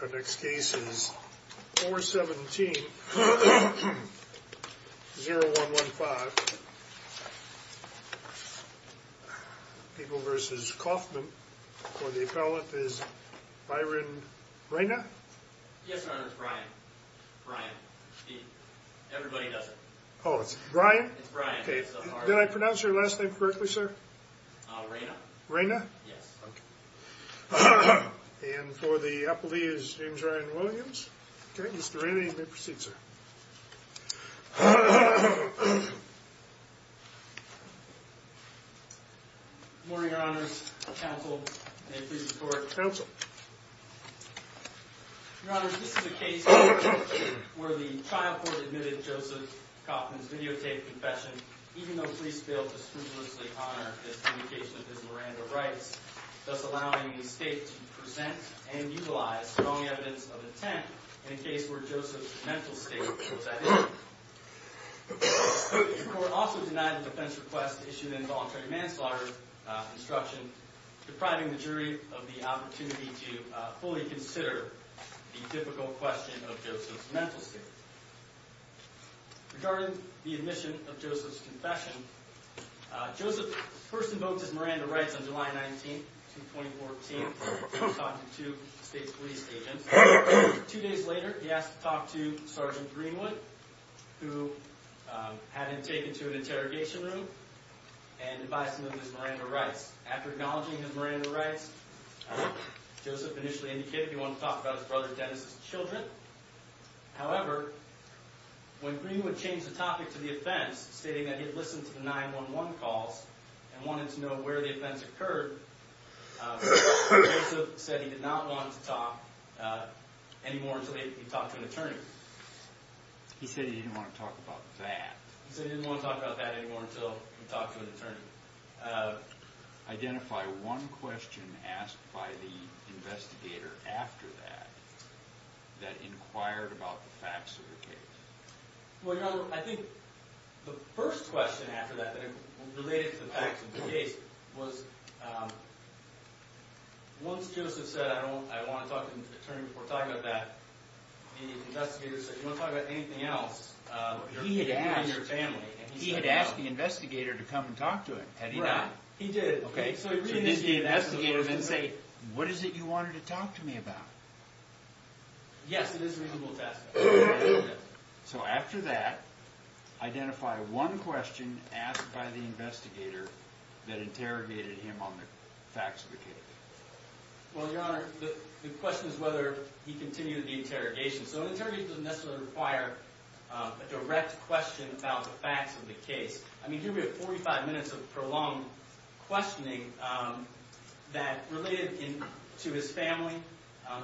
Our next case is 417-0115, People v. Coffman. For the appellate is Byron Reyna? Yes, Your Honor. It's Brian. Brian. Everybody does it. Oh, it's Brian? It's Brian. Did I pronounce your last name correctly, sir? Reyna. Reyna? Yes. Okay. And for the appellee is James Ryan Williams? Okay, Mr. Reyna, you may proceed, sir. Good morning, Your Honors. Counsel, may I please report? Counsel. Your Honors, this is a case where the trial court admitted Joseph Coffman's videotaped confession, even though police failed to scrupulously honor his communication of his Miranda rights, thus allowing the state to present and utilize strong evidence of intent in a case where Joseph's mental state was at issue. The court also denied the defense request to issue the involuntary manslaughter instruction, depriving the jury of the opportunity to fully consider the difficult question of Joseph's mental state. Regarding the admission of Joseph's confession, Joseph first invoked his Miranda rights on July 19th, 2014, when he talked to two state's police agents. Two days later, he asked to talk to Sergeant Greenwood, who had him taken to an interrogation room and advised him of his Miranda rights. After acknowledging his Miranda rights, Joseph initially indicated he wanted to talk about his brother Dennis' children. However, when Greenwood changed the topic to the offense, stating that he had listened to the 911 calls and wanted to know where the offense occurred, Joseph said he did not want to talk anymore until he talked to an attorney. He said he didn't want to talk about that. He said he didn't want to talk about that anymore until he talked to an attorney. Identify one question asked by the investigator after that, that inquired about the facts of the case. Well, you know, I think the first question after that that related to the facts of the case was, once Joseph said, I want to talk to an attorney before talking about that, the investigator said, do you want to talk about anything else? He had asked the investigator to come and talk to him, had he not? He did. Okay, so did the investigator then say, what is it you wanted to talk to me about? Yes, it is reasonable to ask that. So after that, identify one question asked by the investigator that interrogated him on the facts of the case. Well, Your Honor, the question is whether he continued the interrogation. So interrogation doesn't necessarily require a direct question about the facts of the case. I mean, here we have 45 minutes of prolonged questioning that related to his family.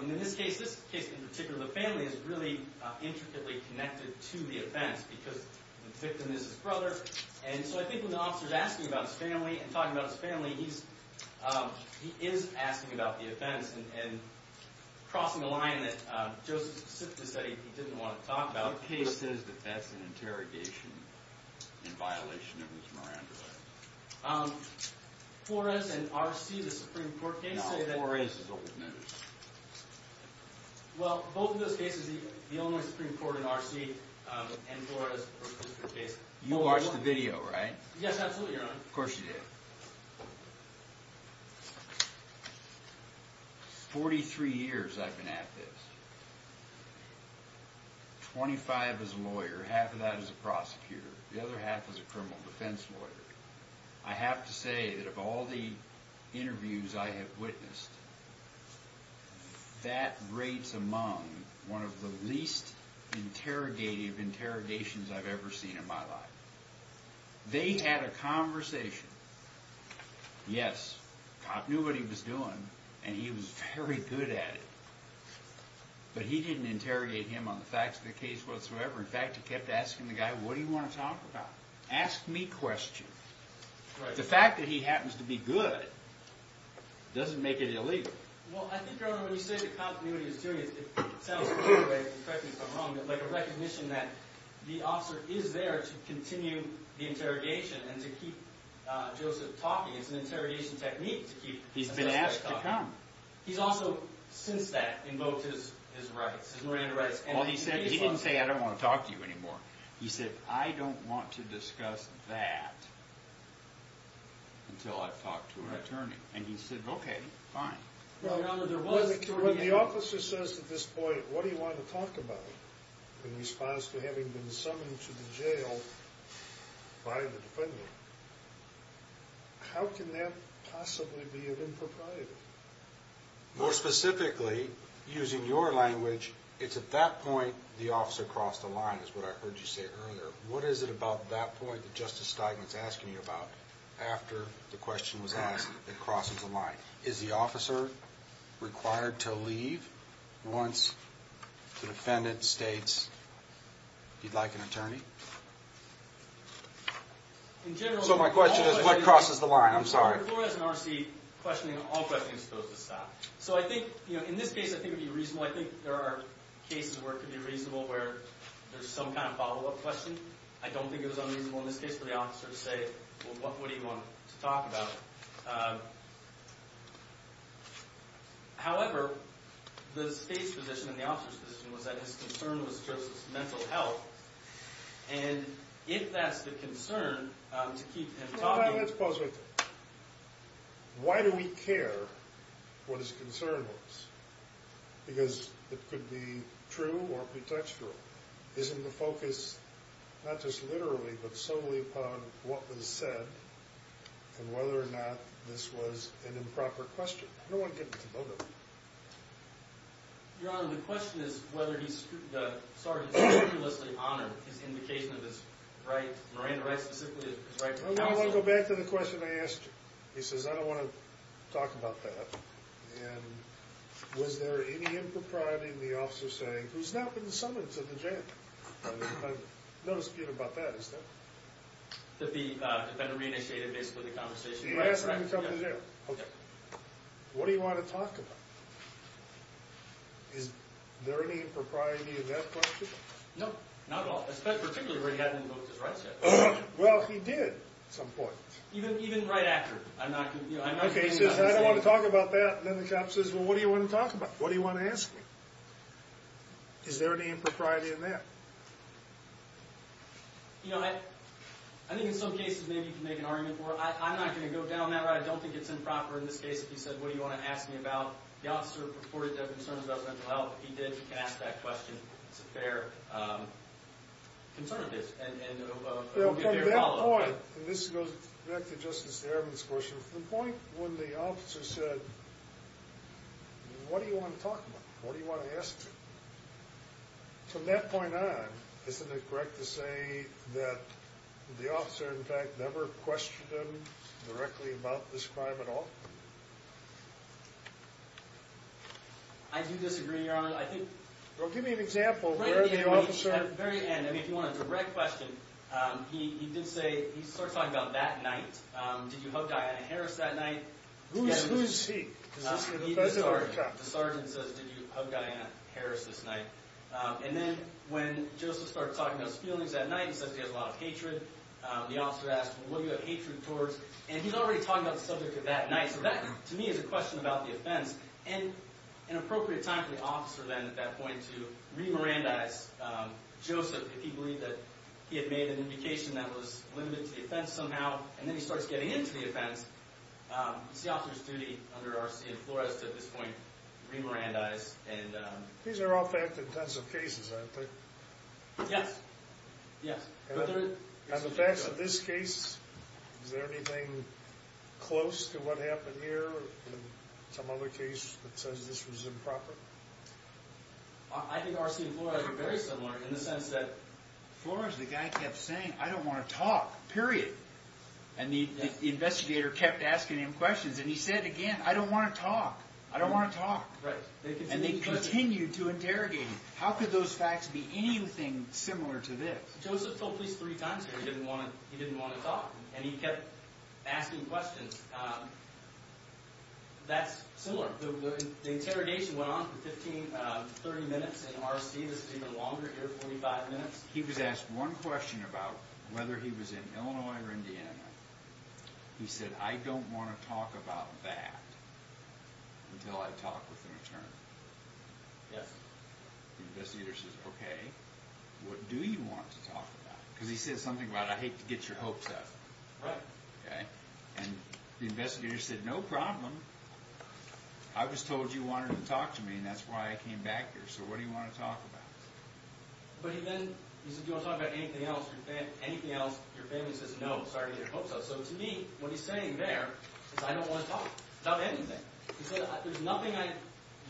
And in this case, this case in particular, the family is really intricately connected to the offense because the victim is his brother. And so I think when the officer is asking about his family and talking about his family, he is asking about the offense and crossing a line that Joseph simply said he didn't want to talk about. What case says that that's an interrogation in violation of his Miranda Act? Flores and R.C., the Supreme Court case. Now, Flores is old news. Well, both of those cases, the Illinois Supreme Court and R.C. and Flores were a district case. You watched the video, right? Yes, absolutely, Your Honor. Of course you did. Forty-three years I've been at this. Twenty-five as a lawyer, half of that as a prosecutor, the other half as a criminal defense lawyer. I have to say that of all the interviews I have witnessed, that rates among one of the least interrogative interrogations I've ever seen in my life. They had a conversation. Yes, the cop knew what he was doing and he was very good at it, but he didn't interrogate him on the facts of the case whatsoever. In fact, he kept asking the guy, what do you want to talk about? Ask me questions. The fact that he happens to be good doesn't make it illegal. Well, I think, Your Honor, when you say the cop knew what he was doing, it sounds to me like, correct me if I'm wrong, but like a recognition that the officer is there to continue the interrogation and to keep Joseph talking. It's an interrogation technique to keep Joseph talking. He's been asked to come. He's also, since that, invoked his rights. Well, he didn't say, I don't want to talk to you anymore. He said, I don't want to discuss that until I've talked to an attorney. And he said, okay, fine. When the officer says at this point, what do you want to talk about, in response to having been summoned to the jail by the defendant, how can that possibly be an impropriety? More specifically, using your language, it's at that point the officer crossed the line, is what I heard you say earlier. What is it about that point that Justice Steigman is asking you about after the question was asked that crosses the line? Is the officer required to leave once the defendant states he'd like an attorney? So my question is, what crosses the line? I'm sorry. The court has an R.C. questioning all questions posed to stop. So I think, you know, in this case, I think it would be reasonable. Well, I think there are cases where it could be reasonable where there's some kind of follow-up question. I don't think it was unreasonable in this case for the officer to say, well, what do you want to talk about? However, the state's position and the officer's position was that his concern was just his mental health. And if that's the concern, to keep him talking. Let's pause right there. Why do we care what his concern was? Because it could be true or pretextual. Isn't the focus not just literally, but solely upon what was said and whether or not this was an improper question? I don't want to get into both of them. Your Honor, the question is whether he started to scrupulously honor his indication of his right, Miranda Wright specifically, his right to counsel. I want to go back to the question I asked you. He says, I don't want to talk about that. And was there any impropriety in the officer saying, who's now been summoned to the jail? No dispute about that, is there? That the defendant re-initiated basically the conversation. He asked him to come to jail. Okay. What do you want to talk about? Is there any impropriety in that question? No. Not at all. Particularly where he hadn't invoked his rights yet. Well, he did at some point. Even right after. Okay, he says, I don't want to talk about that. And then the cop says, well, what do you want to talk about? What do you want to ask me? Is there any impropriety in that? You know, I think in some cases maybe you can make an argument for it. I'm not going to go down that route. I don't think it's improper in this case if you said, what do you want to ask me about? The officer purported to have concerns about mental health. If he did, you can ask that question. It's a fair concern of his. From that point, and this goes back to Justice Evans' question, from the point when the officer said, what do you want to talk about? What do you want to ask me? From that point on, isn't it correct to say that the officer, in fact, never questioned him directly about this crime at all? I do disagree, Your Honor. Well, give me an example. At the very end, if you want a direct question, he did say he started talking about that night. Did you hug Diana Harris that night? Who's he? He's the sergeant. The sergeant says, did you hug Diana Harris this night? And then when Joseph started talking about his feelings that night, he says he has a lot of hatred. The officer asked, well, what do you have hatred towards? And he's already talking about the subject of that night. So that, to me, is a question about the offense. And an appropriate time for the officer then, at that point, to re-Mirandize Joseph, if he believed that he had made an indication that was limited to the offense somehow, and then he starts getting into the offense. It's the officer's duty under R.C. and Flores to, at this point, re-Mirandize. These are all fact-intensive cases, aren't they? Yes. Yes. On the facts of this case, is there anything close to what happened here in some other case that says this was improper? I think R.C. and Flores were very similar in the sense that Flores, the guy, kept saying, I don't want to talk, period. And the investigator kept asking him questions, and he said again, I don't want to talk. I don't want to talk. And they continued to interrogate him. How could those facts be anything similar to this? Joseph told police three times here he didn't want to talk, and he kept asking questions. That's similar. The interrogation went on for 15, 30 minutes in R.C. This is even longer here, 45 minutes. He was asked one question about whether he was in Illinois or Indiana. He said, I don't want to talk about that until I talk with an attorney. Yes. The investigator says, okay, what do you want to talk about? Because he said something about, I hate to get your hopes up. Right. And the investigator said, no problem. I was told you wanted to talk to me, and that's why I came back here. So what do you want to talk about? But he then, he said, do you want to talk about anything else? Anything else, your family says no, sorry to get your hopes up. So to me, what he's saying there is I don't want to talk about anything. He said, there's nothing I, do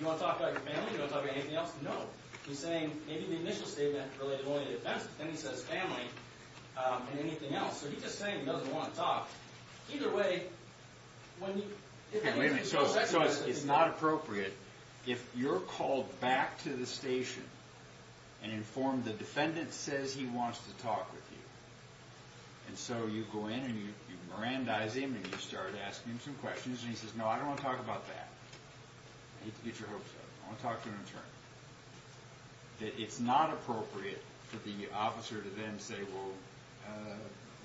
you want to talk about your family? Do you want to talk about anything else? No. He's saying maybe the initial statement related only to the defense, but then he says family and anything else. So he's just saying he doesn't want to talk. Either way, when you, if anything, the second question is. Wait a minute, so it's not appropriate. If you're called back to the station and informed the defendant says he wants to talk with you, and so you go in and you mirandize him and you start asking him some questions, and he says, no, I don't want to talk about that. I hate to get your hopes up. I want to talk to an attorney. That it's not appropriate for the officer to then say, well,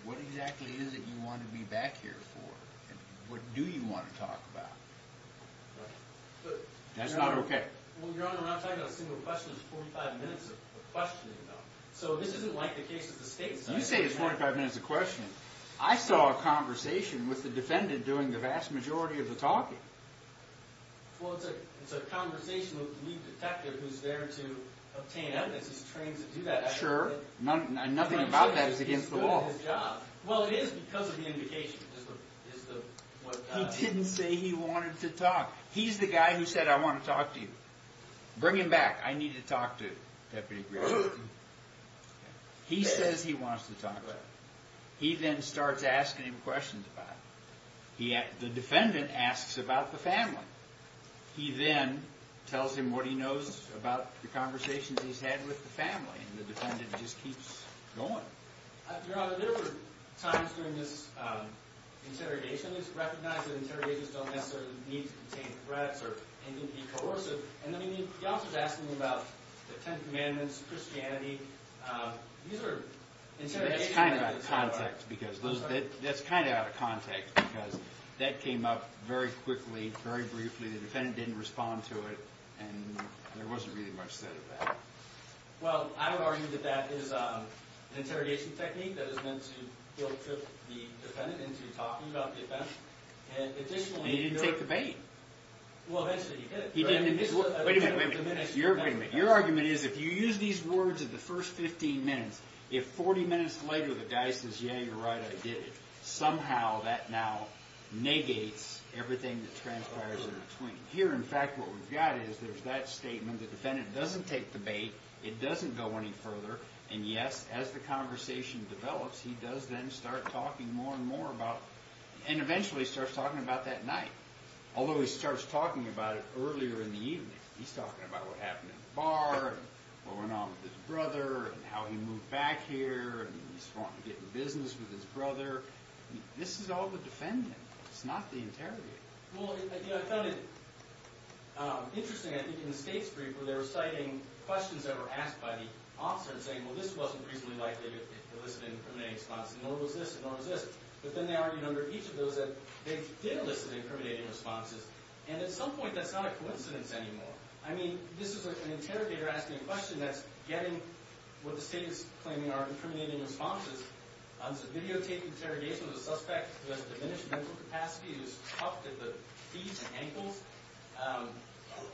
what exactly is it you want to be back here for? What do you want to talk about? That's not okay. Well, Your Honor, I'm not talking about a single question. It's 45 minutes of questioning, though. So this isn't like the case of the state. You say it's 45 minutes of questioning. I saw a conversation with the defendant during the vast majority of the talking. Well, it's a conversation with the detective who's there to obtain evidence. He's trained to do that. Sure. Nothing about that is against the law. Well, it is because of the indication. He didn't say he wanted to talk. He's the guy who said, I want to talk to you. Bring him back. I need to talk to Deputy Grisham. He says he wants to talk to you. He then starts asking him questions about it. The defendant asks about the family. He then tells him what he knows about the conversations he's had with the family, and the defendant just keeps going. Your Honor, there were times during this interrogation when it was recognized that interrogators don't necessarily need to contain threats and can be coercive. And the officer's asking about the Ten Commandments, Christianity. That's kind of out of context because that came up very quickly, very briefly. The defendant didn't respond to it, and there wasn't really much said of that. Well, I would argue that that is an interrogation technique that is meant to guilt-trip the defendant into talking about the offense. And he didn't take the bait. Well, eventually he did. Wait a minute. Wait a minute. Your argument is if you use these words at the first 15 minutes, if 40 minutes later the guy says, yeah, you're right, I did it, somehow that now negates everything that transpires in between. Here, in fact, what we've got is there's that statement. The defendant doesn't take the bait. It doesn't go any further. And, yes, as the conversation develops, he does then start talking more and more about it, and eventually starts talking about that night, although he starts talking about it earlier in the evening. He's talking about what happened in the bar, and what went on with his brother, and how he moved back here, and he's wanting to get in business with his brother. This is all the defendant. It's not the interrogator. Well, I found it interesting, I think, in the state's brief where they were citing questions that were asked by the officer and saying, well, this wasn't reasonably likely to elicit an incriminating response, nor was this, nor was this. But then they argued under each of those that they did elicit incriminating responses. And at some point, that's not a coincidence anymore. I mean, this is an interrogator asking a question that's getting what the state is claiming are incriminating responses. It's a videotaped interrogation of a suspect who has a diminished mental capacity, who's huffed at the feet and ankles.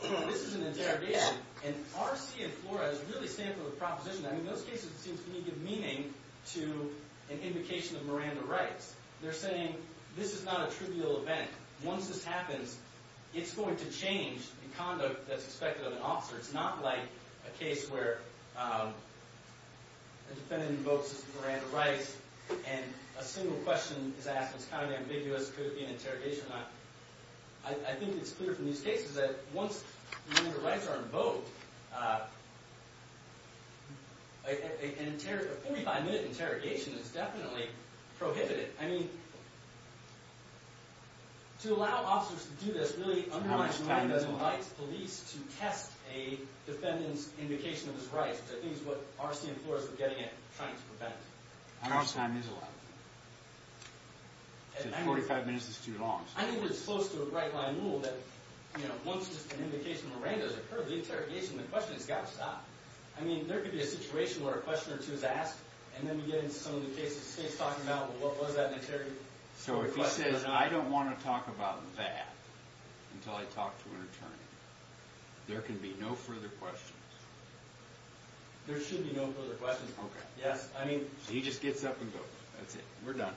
So this is an interrogation, and R.C. and Flora is really standing for the proposition. I mean, those cases, it seems to me, give meaning to an invocation of Miranda rights. They're saying, this is not a trivial event. Once this happens, it's going to change the conduct that's expected of an officer. It's not like a case where a defendant invokes Miranda rights and a single question is asked that's kind of ambiguous, could it be an interrogation or not. I think it's clear from these cases that once Miranda rights are invoked, a 45-minute interrogation is definitely prohibited. I mean, to allow officers to do this really undermines the right of the police to test a defendant's invocation of his rights, which I think is what R.C. and Flora are getting at trying to prevent. How much time is allowed? I think 45 minutes is too long. I think it's close to a right-line rule that once an invocation of Miranda has occurred, the interrogation, the question has got to stop. And then we get into some of the cases the state's talking about, what was that interrogation? So if he says, I don't want to talk about that until I talk to an attorney, there can be no further questions. There should be no further questions. Okay. He just gets up and goes, that's it, we're done.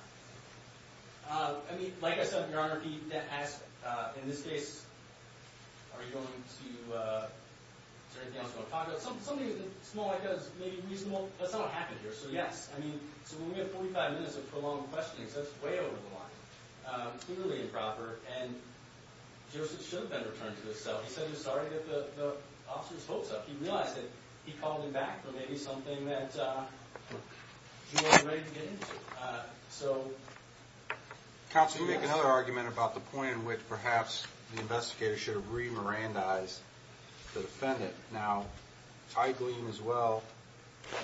I mean, like I said, in this case, are you going to, is there anything else you want to talk about? Something small like that is maybe reasonable. That's not what happened here. So, yes, I mean, so when we have 45 minutes of prolonged questioning, that's way over the line, clearly improper. And Joseph should have been returned to his cell. He said he was sorry to get the officer's votes up. He realized that he called him back for maybe something that he wasn't ready to get into. So, yes. Counsel, you make another argument about the point in which perhaps the investigator should have re-Mirandized the defendant. Now, I glean as well,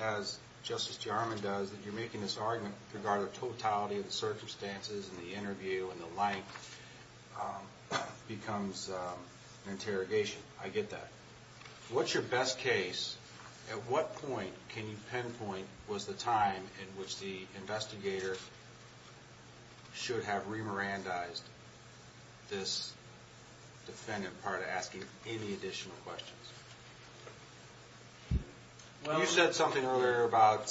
as Justice Jarmon does, that you're making this argument regarding the totality of the circumstances and the interview and the length becomes an interrogation. I get that. What's your best case? At what point can you pinpoint was the time in which the investigator should have re-Mirandized this defendant prior to asking any additional questions? You said something earlier about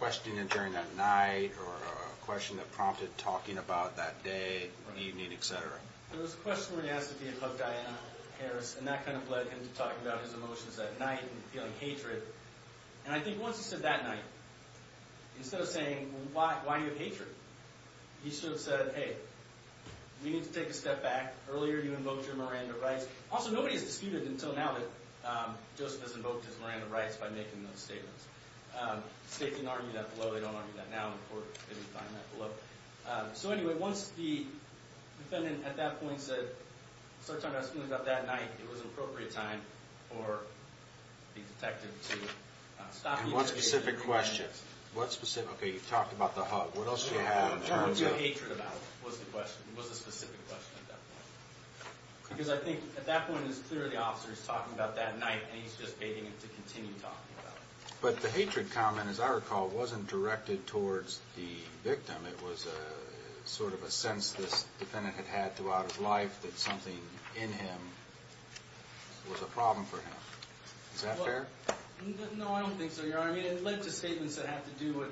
questioning him during that night or a question that prompted talking about that day, evening, et cetera. There was a question when he asked if he had fucked Diana Harris, and that kind of led him to talking about his emotions that night and feeling hatred. And I think once he said that night, instead of saying, why do you have hatred? He should have said, hey, we need to take a step back. Earlier you invoked your Miranda rights. Also, nobody has disputed until now that Joseph has invoked his Miranda rights by making those statements. The state can argue that below. They don't argue that now in court. They can find that below. So, anyway, once the defendant at that point said, started talking about his feelings about that night, it was an appropriate time for the detective to stop the investigation. And what specific questions? What specific? Okay, you talked about the hug. What else do you have in terms of? What do you have hatred about was the question, was the specific question at that point? Because I think at that point it's clear the officer is talking about that night, and he's just begging him to continue talking about it. But the hatred comment, as I recall, wasn't directed towards the victim. It was sort of a sense this defendant had had throughout his life that something in him was a problem for him. Is that fair? No, I don't think so, Your Honor. I mean, it led to statements that have to do with,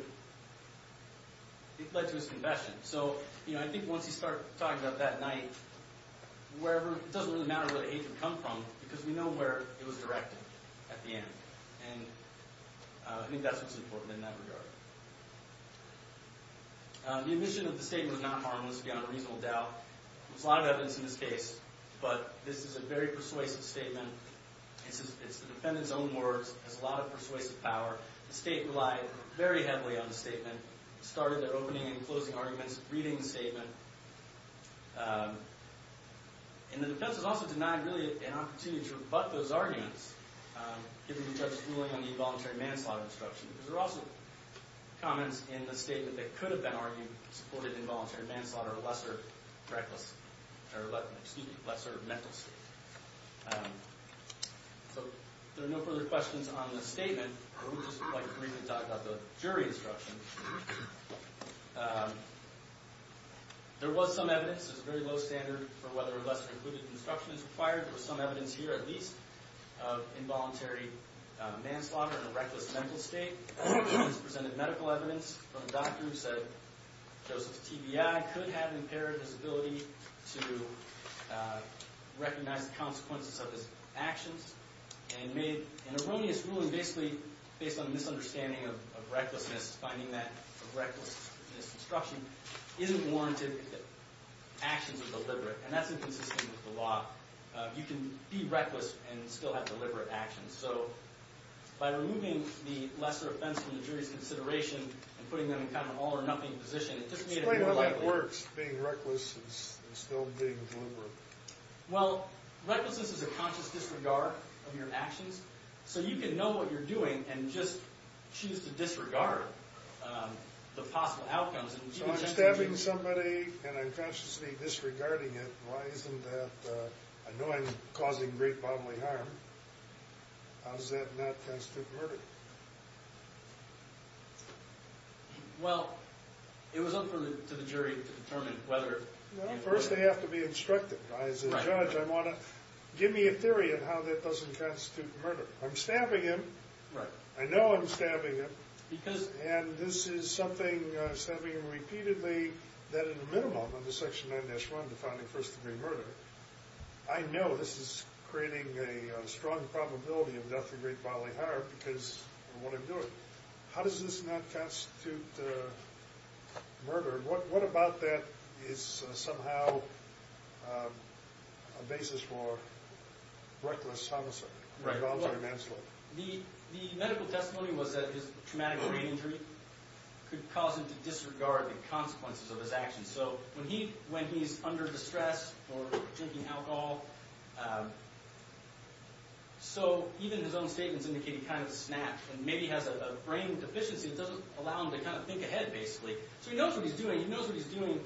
it led to his confession. So, you know, I think once you start talking about that night, wherever, it doesn't really matter where the hatred come from because we know where it was directed at the end. And I think that's what's important in that regard. The admission of the statement was not harmless, again, a reasonable doubt. There was a lot of evidence in this case, but this is a very persuasive statement. It's the defendant's own words. It has a lot of persuasive power. The state relied very heavily on the statement, started their opening and closing arguments reading the statement. And the defense was also denied really an opportunity to rebut those arguments given the judge's ruling on the involuntary manslaughter instruction because there were also comments in the statement that could have been argued supported involuntary manslaughter or lesser mental state. So, if there are no further questions on the statement, I would just like to briefly talk about the jury instruction. There was some evidence. There's a very low standard for whether a lesser included instruction is required. There was some evidence here at least of involuntary manslaughter and a reckless mental state. This presented medical evidence from a doctor who said Joseph's TBI could have impaired his ability to recognize the consequences of his actions and made an erroneous ruling basically based on a misunderstanding of recklessness, finding that a recklessness instruction isn't warranted if the actions are deliberate. And that's inconsistent with the law. You can be reckless and still have deliberate actions. So, by removing the lesser offense from the jury's consideration and putting them in kind of an all or nothing position, it just made it more likely. Explain how that works, being reckless and still being deliberate. Well, recklessness is a conscious disregard of your actions. So, you can know what you're doing and just choose to disregard the possible outcomes. So, I'm stabbing somebody and I'm consciously disregarding it. Why isn't that? I know I'm causing great bodily harm. How does that not constitute murder? Well, it was up to the jury to determine whether. Well, first they have to be instructed. As a judge, I want to give me a theory of how that doesn't constitute murder. I'm stabbing him. I know I'm stabbing him. And this is something I'm stabbing him repeatedly, that at a minimum, under Section 9-1, defining first degree murder, I know this is creating a strong probability of death or great bodily harm because of what I'm doing. How does this not constitute murder? What about that is somehow a basis for reckless homicide? The medical testimony was that his traumatic brain injury could cause him to disregard the consequences of his actions. So, when he's under distress or drinking alcohol, even his own statements indicate he kind of snatched and maybe has a brain deficiency that doesn't allow him to kind of think ahead, basically. So, he knows what he's doing. He knows what he's doing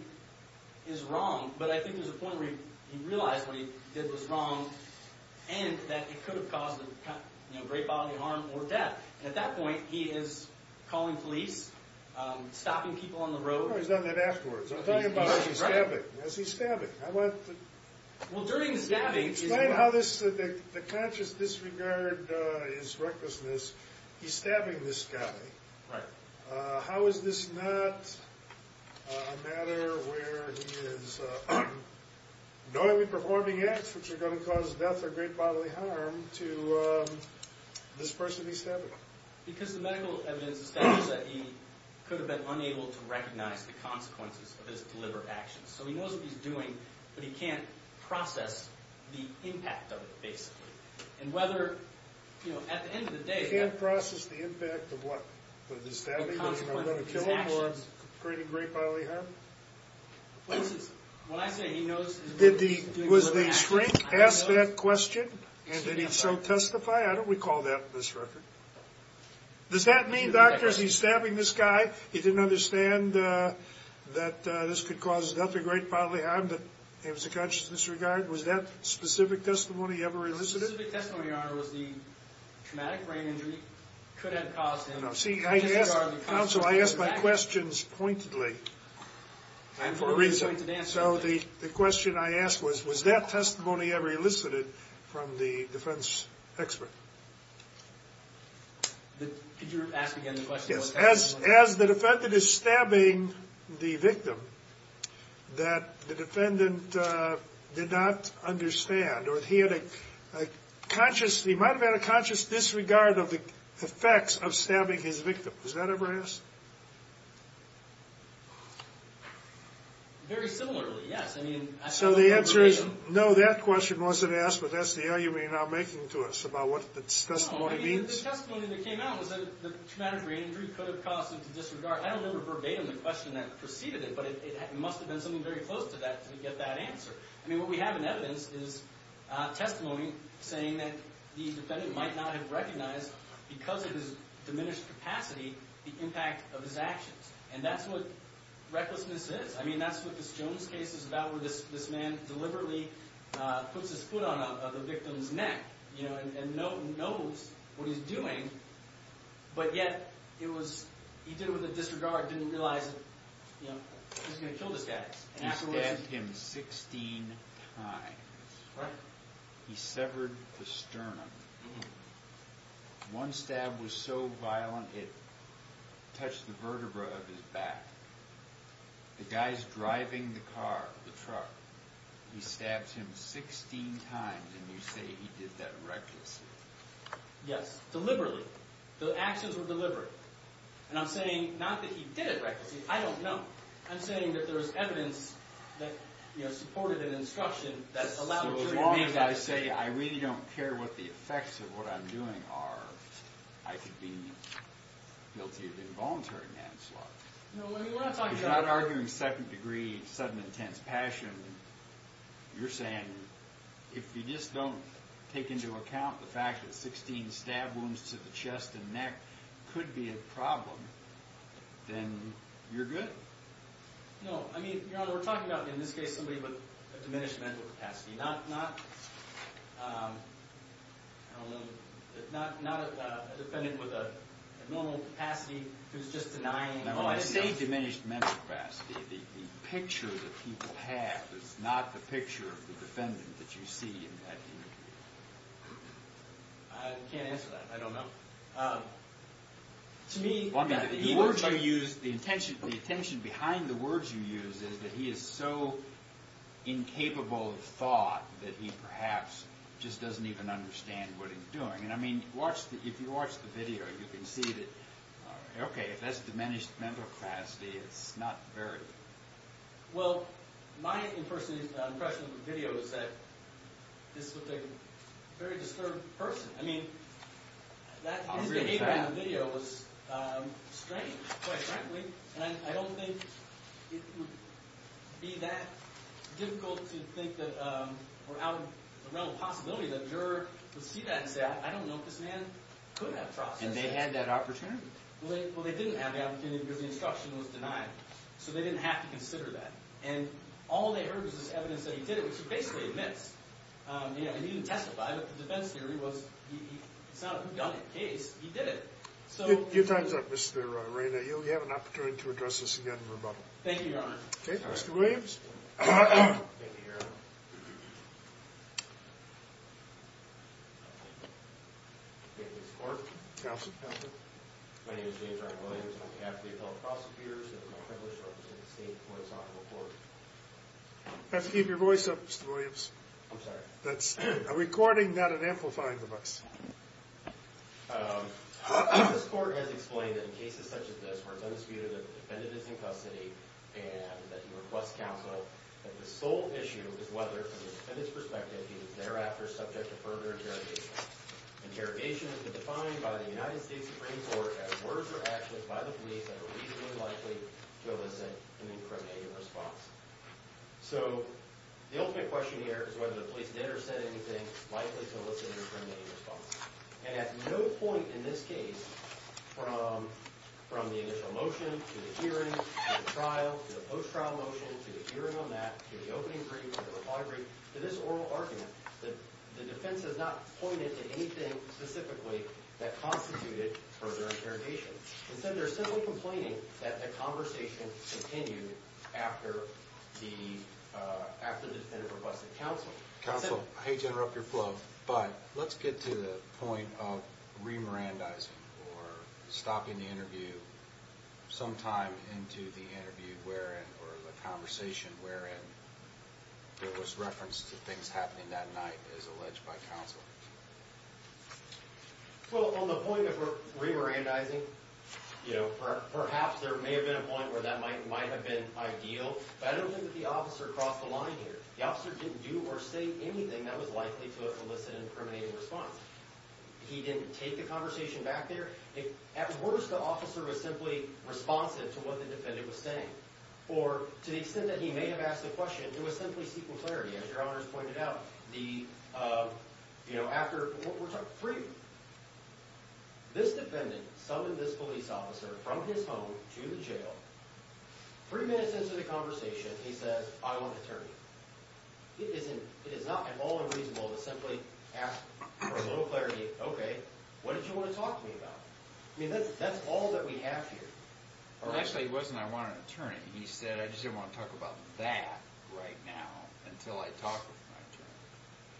is wrong, but I think there's a point where he realized what he did was wrong and that it could have caused him great bodily harm or death. And at that point, he is calling police, stopping people on the road. No, he's done that afterwards. I'm talking about as he's stabbing. As he's stabbing. I want to... Well, during the stabbing... Explain how the conscious disregard is recklessness. He's stabbing this guy. Right. How is this not a matter where he is knowingly performing acts which are going to cause death or great bodily harm to this person he's stabbing? Because the medical evidence establishes that he could have been unable to recognize the consequences of his deliberate actions. So, he knows what he's doing, but he can't process the impact of it, basically. And whether, you know, at the end of the day... He can't process the impact of what? Of the stabbing? Of the consequences of his actions? Or creating great bodily harm? What I say, he knows... Was the shrink asked that question? And did he so testify? I don't recall that in this record. Does that mean, doctors, he's stabbing this guy? He didn't understand that this could cause death or great bodily harm, but it was a conscious disregard? Was that specific testimony ever elicited? The specific testimony, Your Honor, was the traumatic brain injury could have caused him... No, see, I asked... Conscious disregard of the consequences of his actions. Counsel, I ask my questions pointedly. And for a reason. So, the question I asked was, was that testimony ever elicited from the defense expert? Could you ask again the question, what testimony? Was it his stabbing the victim that the defendant did not understand? Or he had a conscious... He might have had a conscious disregard of the effects of stabbing his victim. Was that ever asked? Very similarly, yes. I mean... So the answer is, no, that question wasn't asked, but that's the argument you're now making to us about what the testimony means. The testimony that came out was that the traumatic brain injury could have caused him to disregard... I don't remember verbatim the question that preceded it, but it must have been something very close to that to get that answer. I mean, what we have in evidence is testimony saying that the defendant might not have recognized, because of his diminished capacity, the impact of his actions. And that's what recklessness is. I mean, that's what this Jones case is about, where this man deliberately puts his foot on the victim's neck, you know, and knows what he's doing, but yet he did it with a disregard, didn't realize he was going to kill this guy. He stabbed him 16 times. He severed the sternum. One stab was so violent it touched the vertebrae of his back. The guy's driving the car, the truck. He stabs him 16 times, and you say he did that recklessly. Yes, deliberately. The actions were deliberate. And I'm saying not that he did it recklessly. I don't know. I'm saying that there's evidence that, you know, supported an instruction that allowed... So as long as I say I really don't care what the effects of what I'm doing are, I could be guilty of involuntary manslaughter. He's not arguing second-degree sudden intense passion. You're saying if you just don't take into account the fact that 16 stab wounds to the chest and neck could be a problem, then you're good. No, I mean, Your Honor, we're talking about, in this case, somebody with a diminished mental capacity, not a defendant with a normal capacity who's just denying... Now, when I say diminished mental capacity, the picture that people have is not the picture of the defendant that you see. I can't answer that. I don't know. To me... The intention behind the words you use is that he is so incapable of thought that he perhaps just doesn't even understand what he's doing. And, I mean, if you watch the video, you can see that, okay, if that's diminished mental capacity, it's not very... Well, my impression of the video is that this was a very disturbed person. I mean, his behavior in the video was strange, quite frankly. And I don't think it would be that difficult to think that or out of the realm of possibility that a juror would see that and say, I don't know if this man could have processed that. And they had that opportunity? Well, they didn't have the opportunity because the instruction was denied. So they didn't have to consider that. And all they heard was this evidence that he did it, which he basically admits. He didn't testify, but the defense theory was it's not a gun case. He did it. So... Your time's up, Mr. Reyna. You'll have an opportunity to address this again in rebuttal. Thank you, Your Honor. Okay, Mr. Williams. Thank you, Your Honor. Thank you, Mr. Clark. Counsel. Counsel. My name is James R. Williams. I'm behalf of the adult prosecutors. It is my privilege to represent the state before this honorable court. You have to keep your voice up, Mr. Williams. I'm sorry. That's a recording, not an amplifying device. This court has explained that in cases such as this where it's undisputed that the defendant is in custody and that he requests counsel, that the sole issue is whether, from the defendant's perspective, he is thereafter subject to further interrogation. Interrogation has been defined by the United States Supreme Court as words or actions by the police that are reasonably likely to elicit an incriminating response. So, the ultimate question here is whether the police did or said anything likely to elicit an incriminating response. And at no point in this case, from the initial motion, to the hearing, to the trial, to the post-trial motion, to the hearing on that, to the opening brief, to the reply brief, to this oral argument, the defense has not pointed to anything specifically that constituted further interrogation. Instead, they're simply complaining that the conversation continued after the defendant requested counsel. Counsel, I hate to interrupt your flow, but let's get to the point of re-Mirandizing, or stopping the interview sometime into the interview wherein, or the conversation wherein, there was reference to things happening that night as alleged by counsel. Well, on the point of re-Mirandizing, perhaps there may have been a point where that might have been ideal, but I don't think that the officer crossed the line here. The officer didn't do or say anything that was likely to elicit an incriminating response. He didn't take the conversation back there. At worst, the officer was simply responsive to what the defendant was saying. Or, to the extent that he may have asked the question, it was simply seeking clarity. As your honors pointed out, the, you know, after, we're talking three, this defendant summoned this police officer from his home to the jail. Three minutes into the conversation, he says, I want an attorney. It is not at all unreasonable to simply ask for a little clarity, okay, what did you want to talk to me about? I mean, that's all that we have here. Actually, he wasn't, I want an attorney. He said, I just didn't want to talk about that right now until I talked with my attorney.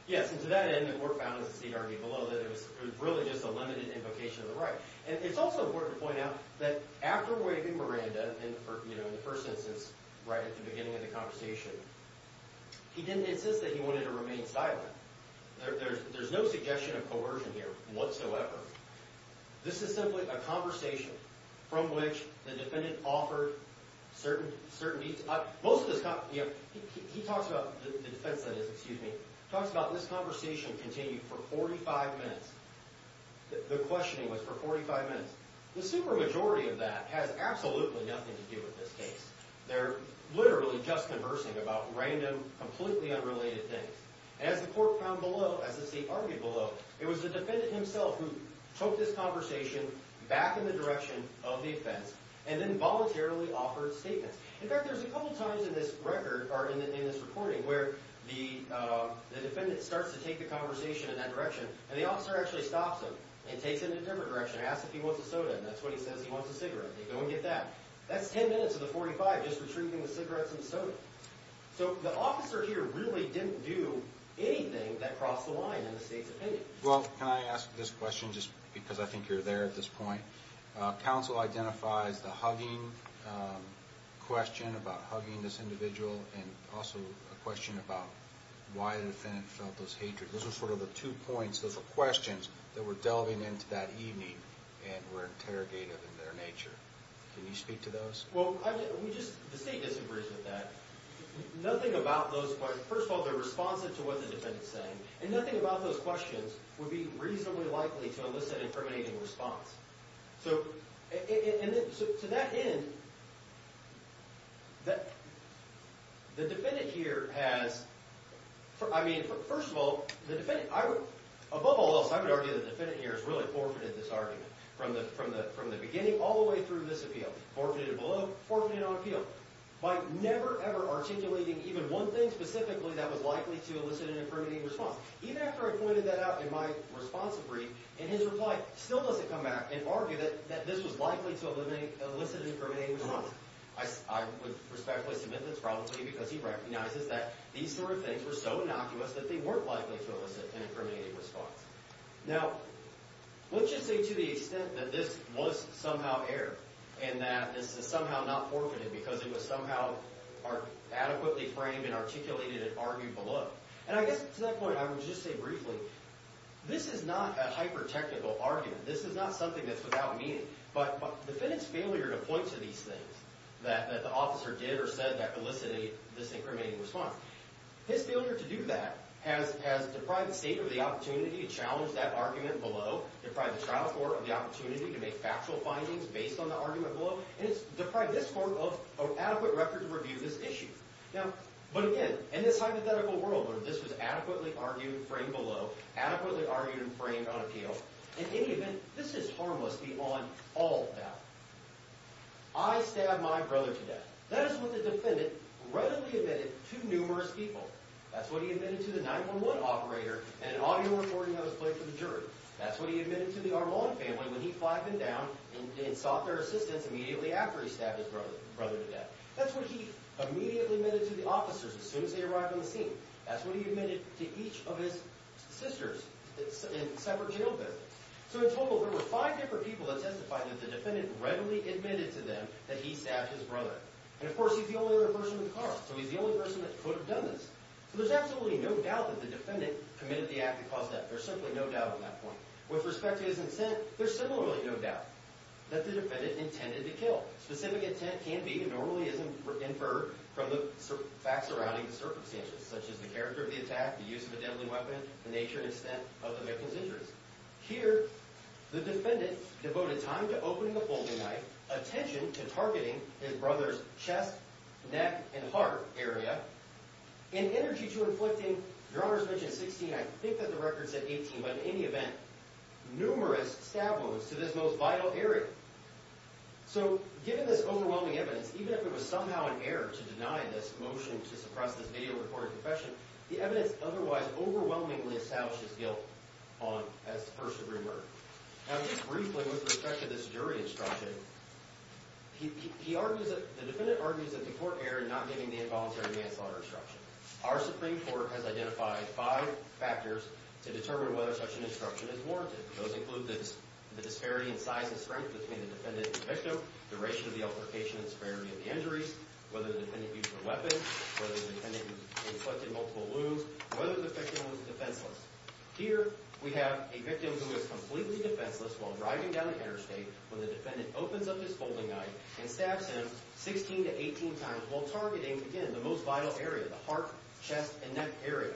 Yes, and to that end, the court found, as Steve argued below, that it was really just a limited invocation of the right. And it's also important to point out that after waiving Miranda, you know, in the first instance, right at the beginning of the conversation, he didn't insist that he wanted to remain silent. There's no suggestion of coercion here whatsoever. This is simply a conversation from which the defendant offered certain, certain, most of this, you know, he talks about, the defense that is, excuse me, talks about this conversation continued for 45 minutes. The questioning was for 45 minutes. The super majority of that has absolutely nothing to do with this case. They're literally just conversing about random, completely unrelated things. As the court found below, as the state argued below, it was the defendant himself who took this conversation back in the direction of the offense and then voluntarily offered statements. In fact, there's a couple times in this record, or in this reporting, where the defendant starts to take the conversation in that direction, and the officer actually stops him and takes it in a different direction, asks if he wants a soda, and that's what he says, he wants a cigarette. They go and get that. That's 10 minutes of the 45 just retrieving the cigarettes and soda. So the officer here really didn't do anything that crossed the line in the state's opinion. Well, can I ask this question just because I think you're there at this point? Counsel identifies the hugging question about hugging this individual and also a question about why the defendant felt this hatred. Those are sort of the two points, those are questions that were delving into that evening and were interrogated in their nature. Can you speak to those? Well, the state disagrees with that. First of all, they're responsive to what the defendant's saying, and nothing about those questions would be reasonably likely to elicit an incriminating response. So to that end, the defendant here has, I mean, first of all, above all else, I would argue the defendant here has really forfeited this argument from the beginning all the way through this appeal. Forfeited it below, forfeited it on appeal by never, ever articulating even one thing specifically that was likely to elicit an incriminating response. Even after I pointed that out in my responsive brief, in his reply still doesn't come back and argue that this was likely to elicit an incriminating response. I would respectfully submit that's probably because he recognizes that these sort of things were so innocuous that they weren't likely to elicit an incriminating response. Now, let's just say to the extent that this was somehow errored and that this is somehow not forfeited because it was somehow adequately framed and articulated and argued below. And I guess to that point, I would just say briefly, this is not a hyper-technical argument. This is not something that's without meaning. But the defendant's failure to point to these things that the officer did or said that elicited this incriminating response, his failure to do that has deprived the state of the opportunity to challenge that argument below, deprived the trial court of the opportunity to make factual findings based on the argument below, and it's deprived this court of adequate record to review this issue. Now, but again, in this hypothetical world where this was adequately argued and framed below, adequately argued and framed on appeal, in any event, this is harmless beyond all doubt. I stabbed my brother to death. That is what the defendant readily admitted to numerous people. That's what he admitted to the 911 operator and an audio recording that was played for the jury. That's what he admitted to the Armand family when he flagged them down and sought their assistance immediately after he stabbed his brother to death. That's what he immediately admitted to the officers as soon as they arrived on the scene. That's what he admitted to each of his sisters in separate jail visits. So in total, there were five different people that testified that the defendant readily admitted to them that he stabbed his brother. And, of course, he's the only other person with cause, so he's the only person that could have done this. So there's absolutely no doubt that the defendant committed the act that caused death. There's simply no doubt on that point. With respect to his intent, there's similarly no doubt that the defendant intended to kill. Specific intent can be and normally is inferred from the facts surrounding the circumstances, such as the character of the attack, the use of a deadly weapon, the nature and extent of the victim's injuries. Here, the defendant devoted time to opening the folding knife, attention to targeting his brother's chest, neck, and heart area, and energy to inflicting, Your Honor's mentioned 16. I think that the record said 18, but in any event, numerous stab wounds to this most vital area. So given this overwhelming evidence, even if it was somehow an error to deny this motion to suppress this video recording confession, the evidence otherwise overwhelmingly established his guilt as the first-degree murderer. Now, just briefly, with respect to this jury instruction, the defendant argues that the court erred in not giving the involuntary manslaughter instruction. Our Supreme Court has identified five factors to determine whether such an instruction is warranted. Those include the disparity in size and strength between the defendant and the victim, the ratio of the altercation and the severity of the injuries, whether the defendant used a weapon, whether the defendant inflicted multiple wounds, whether the victim was defenseless. Here, we have a victim who is completely defenseless while driving down the interstate when the defendant opens up his folding knife and stabs him 16 to 18 times while targeting, again, the most vital area, the heart, chest, and neck area.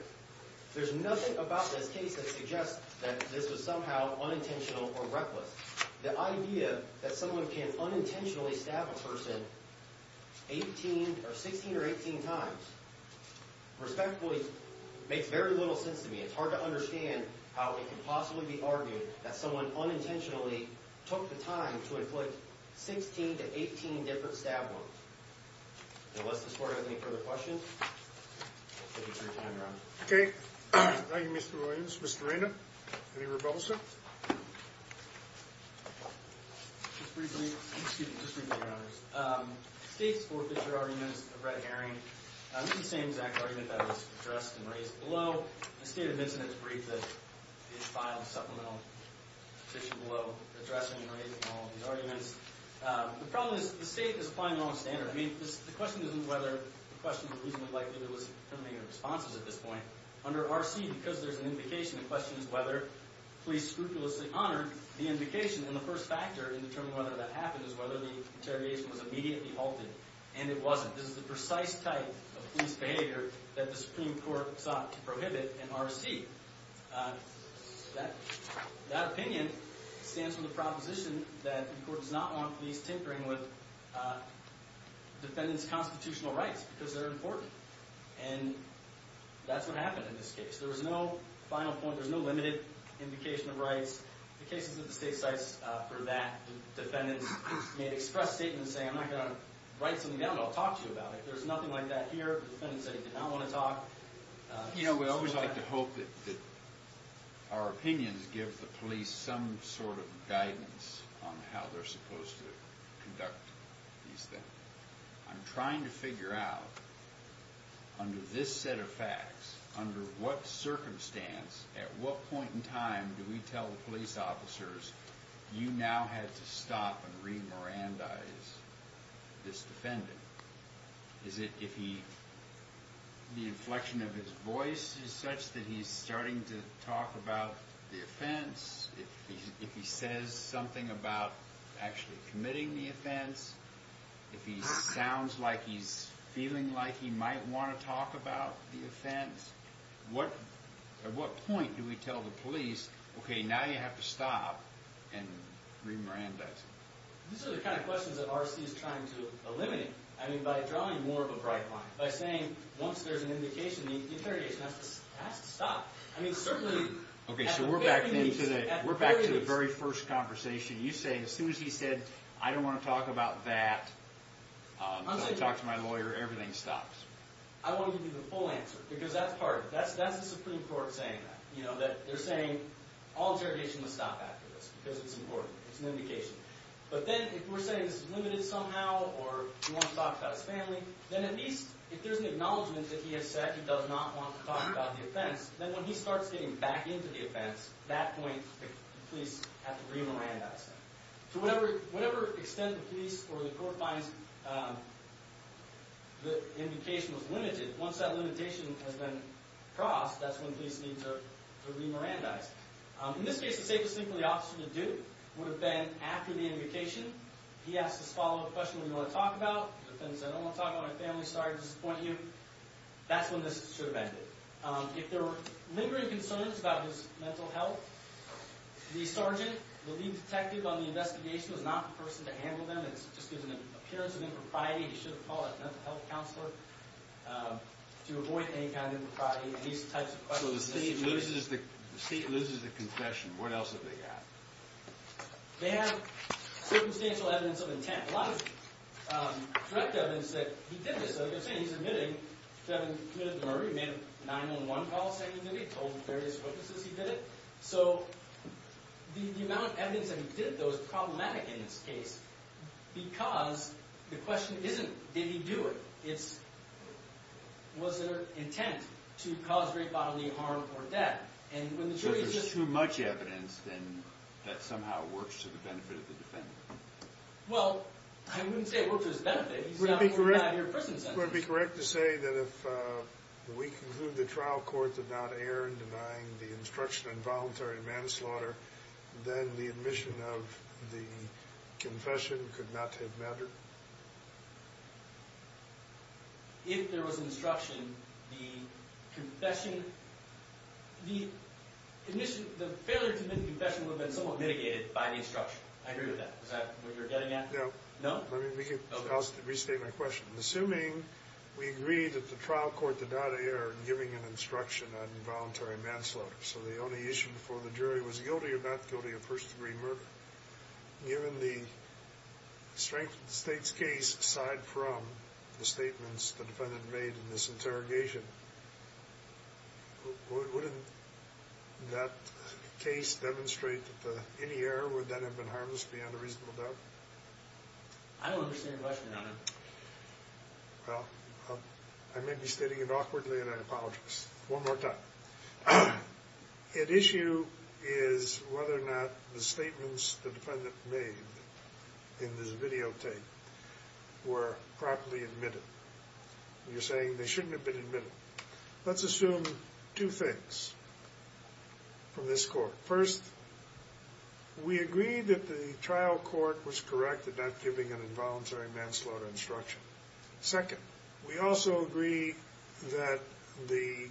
There's nothing about this case that suggests that this was somehow unintentional or reckless. The idea that someone can unintentionally stab a person 16 or 18 times respectfully makes very little sense to me. It's hard to understand how it can possibly be argued that someone unintentionally took the time to inflict 16 to 18 different stab wounds. Unless this court has any further questions, we'll take a three-time round. Okay. Thank you, Mr. Williams. Mr. Randolph, any rebuttals? Just briefly, Your Honors. The case for Fisher arguments of red herring, this is the same exact argument that was addressed and raised below. The state of incidents brief that is filed in the supplemental petition below addressing and raising all of these arguments. The problem is the state is applying the wrong standard. I mean, the question isn't whether the question was reasonably likely there was preliminary responses at this point. Under R.C., because there's an indication, the question is whether police scrupulously honored the indication. And the first factor in determining whether that happened is whether the interrogation was immediately halted, and it wasn't. This is the precise type of police behavior that the Supreme Court sought to prohibit in R.C. That opinion stands from the proposition that the court does not want police tinkering with defendants' constitutional rights because they're important. And that's what happened in this case. There was no final point. There's no limited indication of rights. The cases at the state sites for that, defendants made express statements saying, I'm not going to write something down, but I'll talk to you about it. There's nothing like that here. The defendant said he did not want to talk. You know, we always like to hope that our opinions give the police some sort of guidance on how they're supposed to conduct these things. I'm trying to figure out, under this set of facts, under what circumstance, at what point in time, do we tell the police officers, you now had to stop and re-Mirandize this defendant? Is it if the inflection of his voice is such that he's starting to talk about the offense? If he says something about actually committing the offense? If he sounds like he's feeling like he might want to talk about the offense? At what point do we tell the police, okay, now you have to stop and re-Mirandize him? These are the kind of questions that R.C. is trying to eliminate. I mean, by drawing more of a bright line. By saying, once there's an indication, the interrogation has to stop. I mean, certainly at the very least. Okay, so we're back to the very first conversation. You say, as soon as he said, I don't want to talk about that until I talk to my lawyer, everything stops. I want to give you the full answer, because that's part of it. That's the Supreme Court saying that. They're saying all interrogation must stop after this, because it's important. It's an indication. But then if we're saying this is limited somehow, or he wants to talk about his family, then at least if there's an acknowledgment that he has said he does not want to talk about the offense, then when he starts getting back into the offense, at that point the police have to re-Mirandize him. To whatever extent the police or the court finds the indication was limited, once that limitation has been crossed, that's when police need to re-Mirandize. In this case, the safest thing for the officer to do would have been, after the indication, he asks this follow-up question, what do you want to talk about? The defendant says, I don't want to talk about my family, sorry to disappoint you. That's when this should have ended. If there were lingering concerns about his mental health, the sergeant, the lead detective on the investigation, was not the person to handle them. It just gives an appearance of impropriety. He should have called a mental health counselor to avoid any kind of impropriety. So the state loses the confession. What else have they got? They have circumstantial evidence of intent. A lot of direct evidence that he did this. As I was saying, he's admitting to having committed the murder. He made a 911 call saying he did it. He told various witnesses he did it. So the amount of evidence that he did, though, is problematic in this case because the question isn't, did he do it? It's, was there intent to cause great bodily harm or death? So there's too much evidence, then, that somehow works to the benefit of the defendant? Well, I wouldn't say it works to his benefit. He's not in your prison sentence. I think it would be correct to say that if we conclude the trial court did not err in denying the instruction in voluntary manslaughter, then the admission of the confession could not have mattered. If there was instruction, the confession, the admission, the failure to admit the confession would have been somewhat mitigated by the instruction. I agree with that. Is that what you're getting at? No. No? Let me restate my question. Assuming we agree that the trial court did not err in giving an instruction on involuntary manslaughter, so the only issue before the jury was guilty or not guilty of first-degree murder, given the strength of the State's case aside from the statements the defendant made in this interrogation, wouldn't that case demonstrate that any error would then have been harmless beyond a reasonable doubt? I don't understand your question, Your Honor. Well, I may be stating it awkwardly, and I apologize. One more time. At issue is whether or not the statements the defendant made in this videotape were properly admitted. You're saying they shouldn't have been admitted. Let's assume two things from this court. First, we agree that the trial court was correct in not giving an involuntary manslaughter instruction. Second, we also agree that the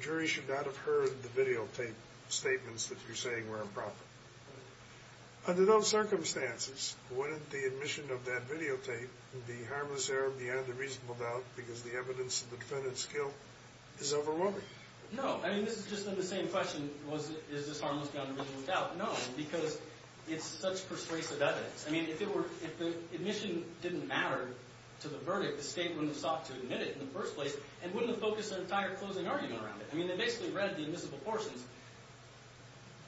jury should not have heard the videotape statements that you're saying were improper. Under those circumstances, wouldn't the admission of that videotape be harmless error beyond a reasonable doubt because the evidence that the defendants killed is overwhelming? No. I mean, this is just then the same question, is this harmless beyond a reasonable doubt? No, because it's such persuasive evidence. I mean, if the admission didn't matter to the verdict, the State wouldn't have sought to admit it in the first place and wouldn't have focused an entire closing argument around it. I mean, they basically read the admissible portions.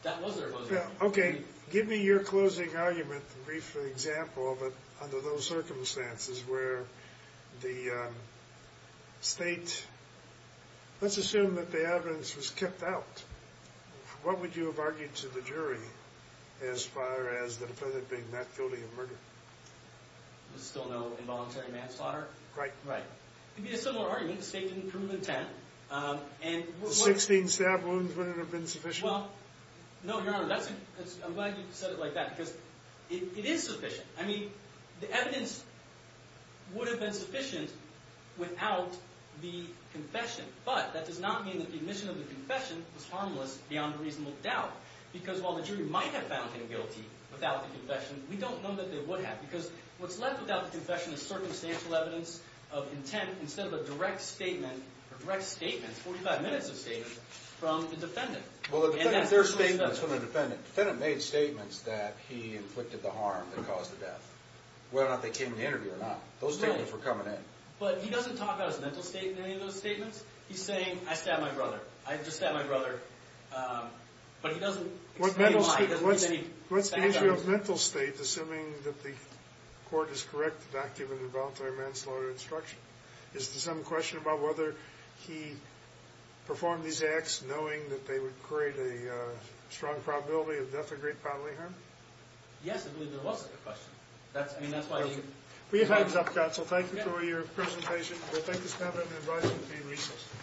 That was their closing argument. Okay. Give me your closing argument, a brief example of it under those circumstances where the State, let's assume that the evidence was kept out. What would you have argued to the jury as far as the defendant being not guilty of murder? Still no involuntary manslaughter? Right. Right. It would be a similar argument if the State didn't prove intent. The 16 stab wounds wouldn't have been sufficient? Well, no, Your Honor, I'm glad you said it like that because it is sufficient. I mean, the evidence would have been sufficient without the confession, but that does not mean that the admission of the confession was harmless beyond a reasonable doubt because while the jury might have found him guilty without the confession, we don't know that they would have because what's left without the confession is circumstantial evidence of intent instead of a direct statement or direct statements, 45 minutes of statements from the defendant. Well, the defendant made statements that he inflicted the harm that caused the death, whether or not they came in the interview or not. Those statements were coming in. But he doesn't talk about his mental state in any of those statements? He's saying, I stabbed my brother. I just stabbed my brother, but he doesn't explain why. What's the issue of mental state, assuming that the court is correct to not give an involuntary manslaughter instruction? Is there some question about whether he performed these acts knowing that they would create a strong probability of death or great bodily harm? Yes, I believe there was a question. I mean, that's why you— Perfect. Please give a hands up, counsel. Thank you for your presentation. We'll take this matter and advise you to be recessed.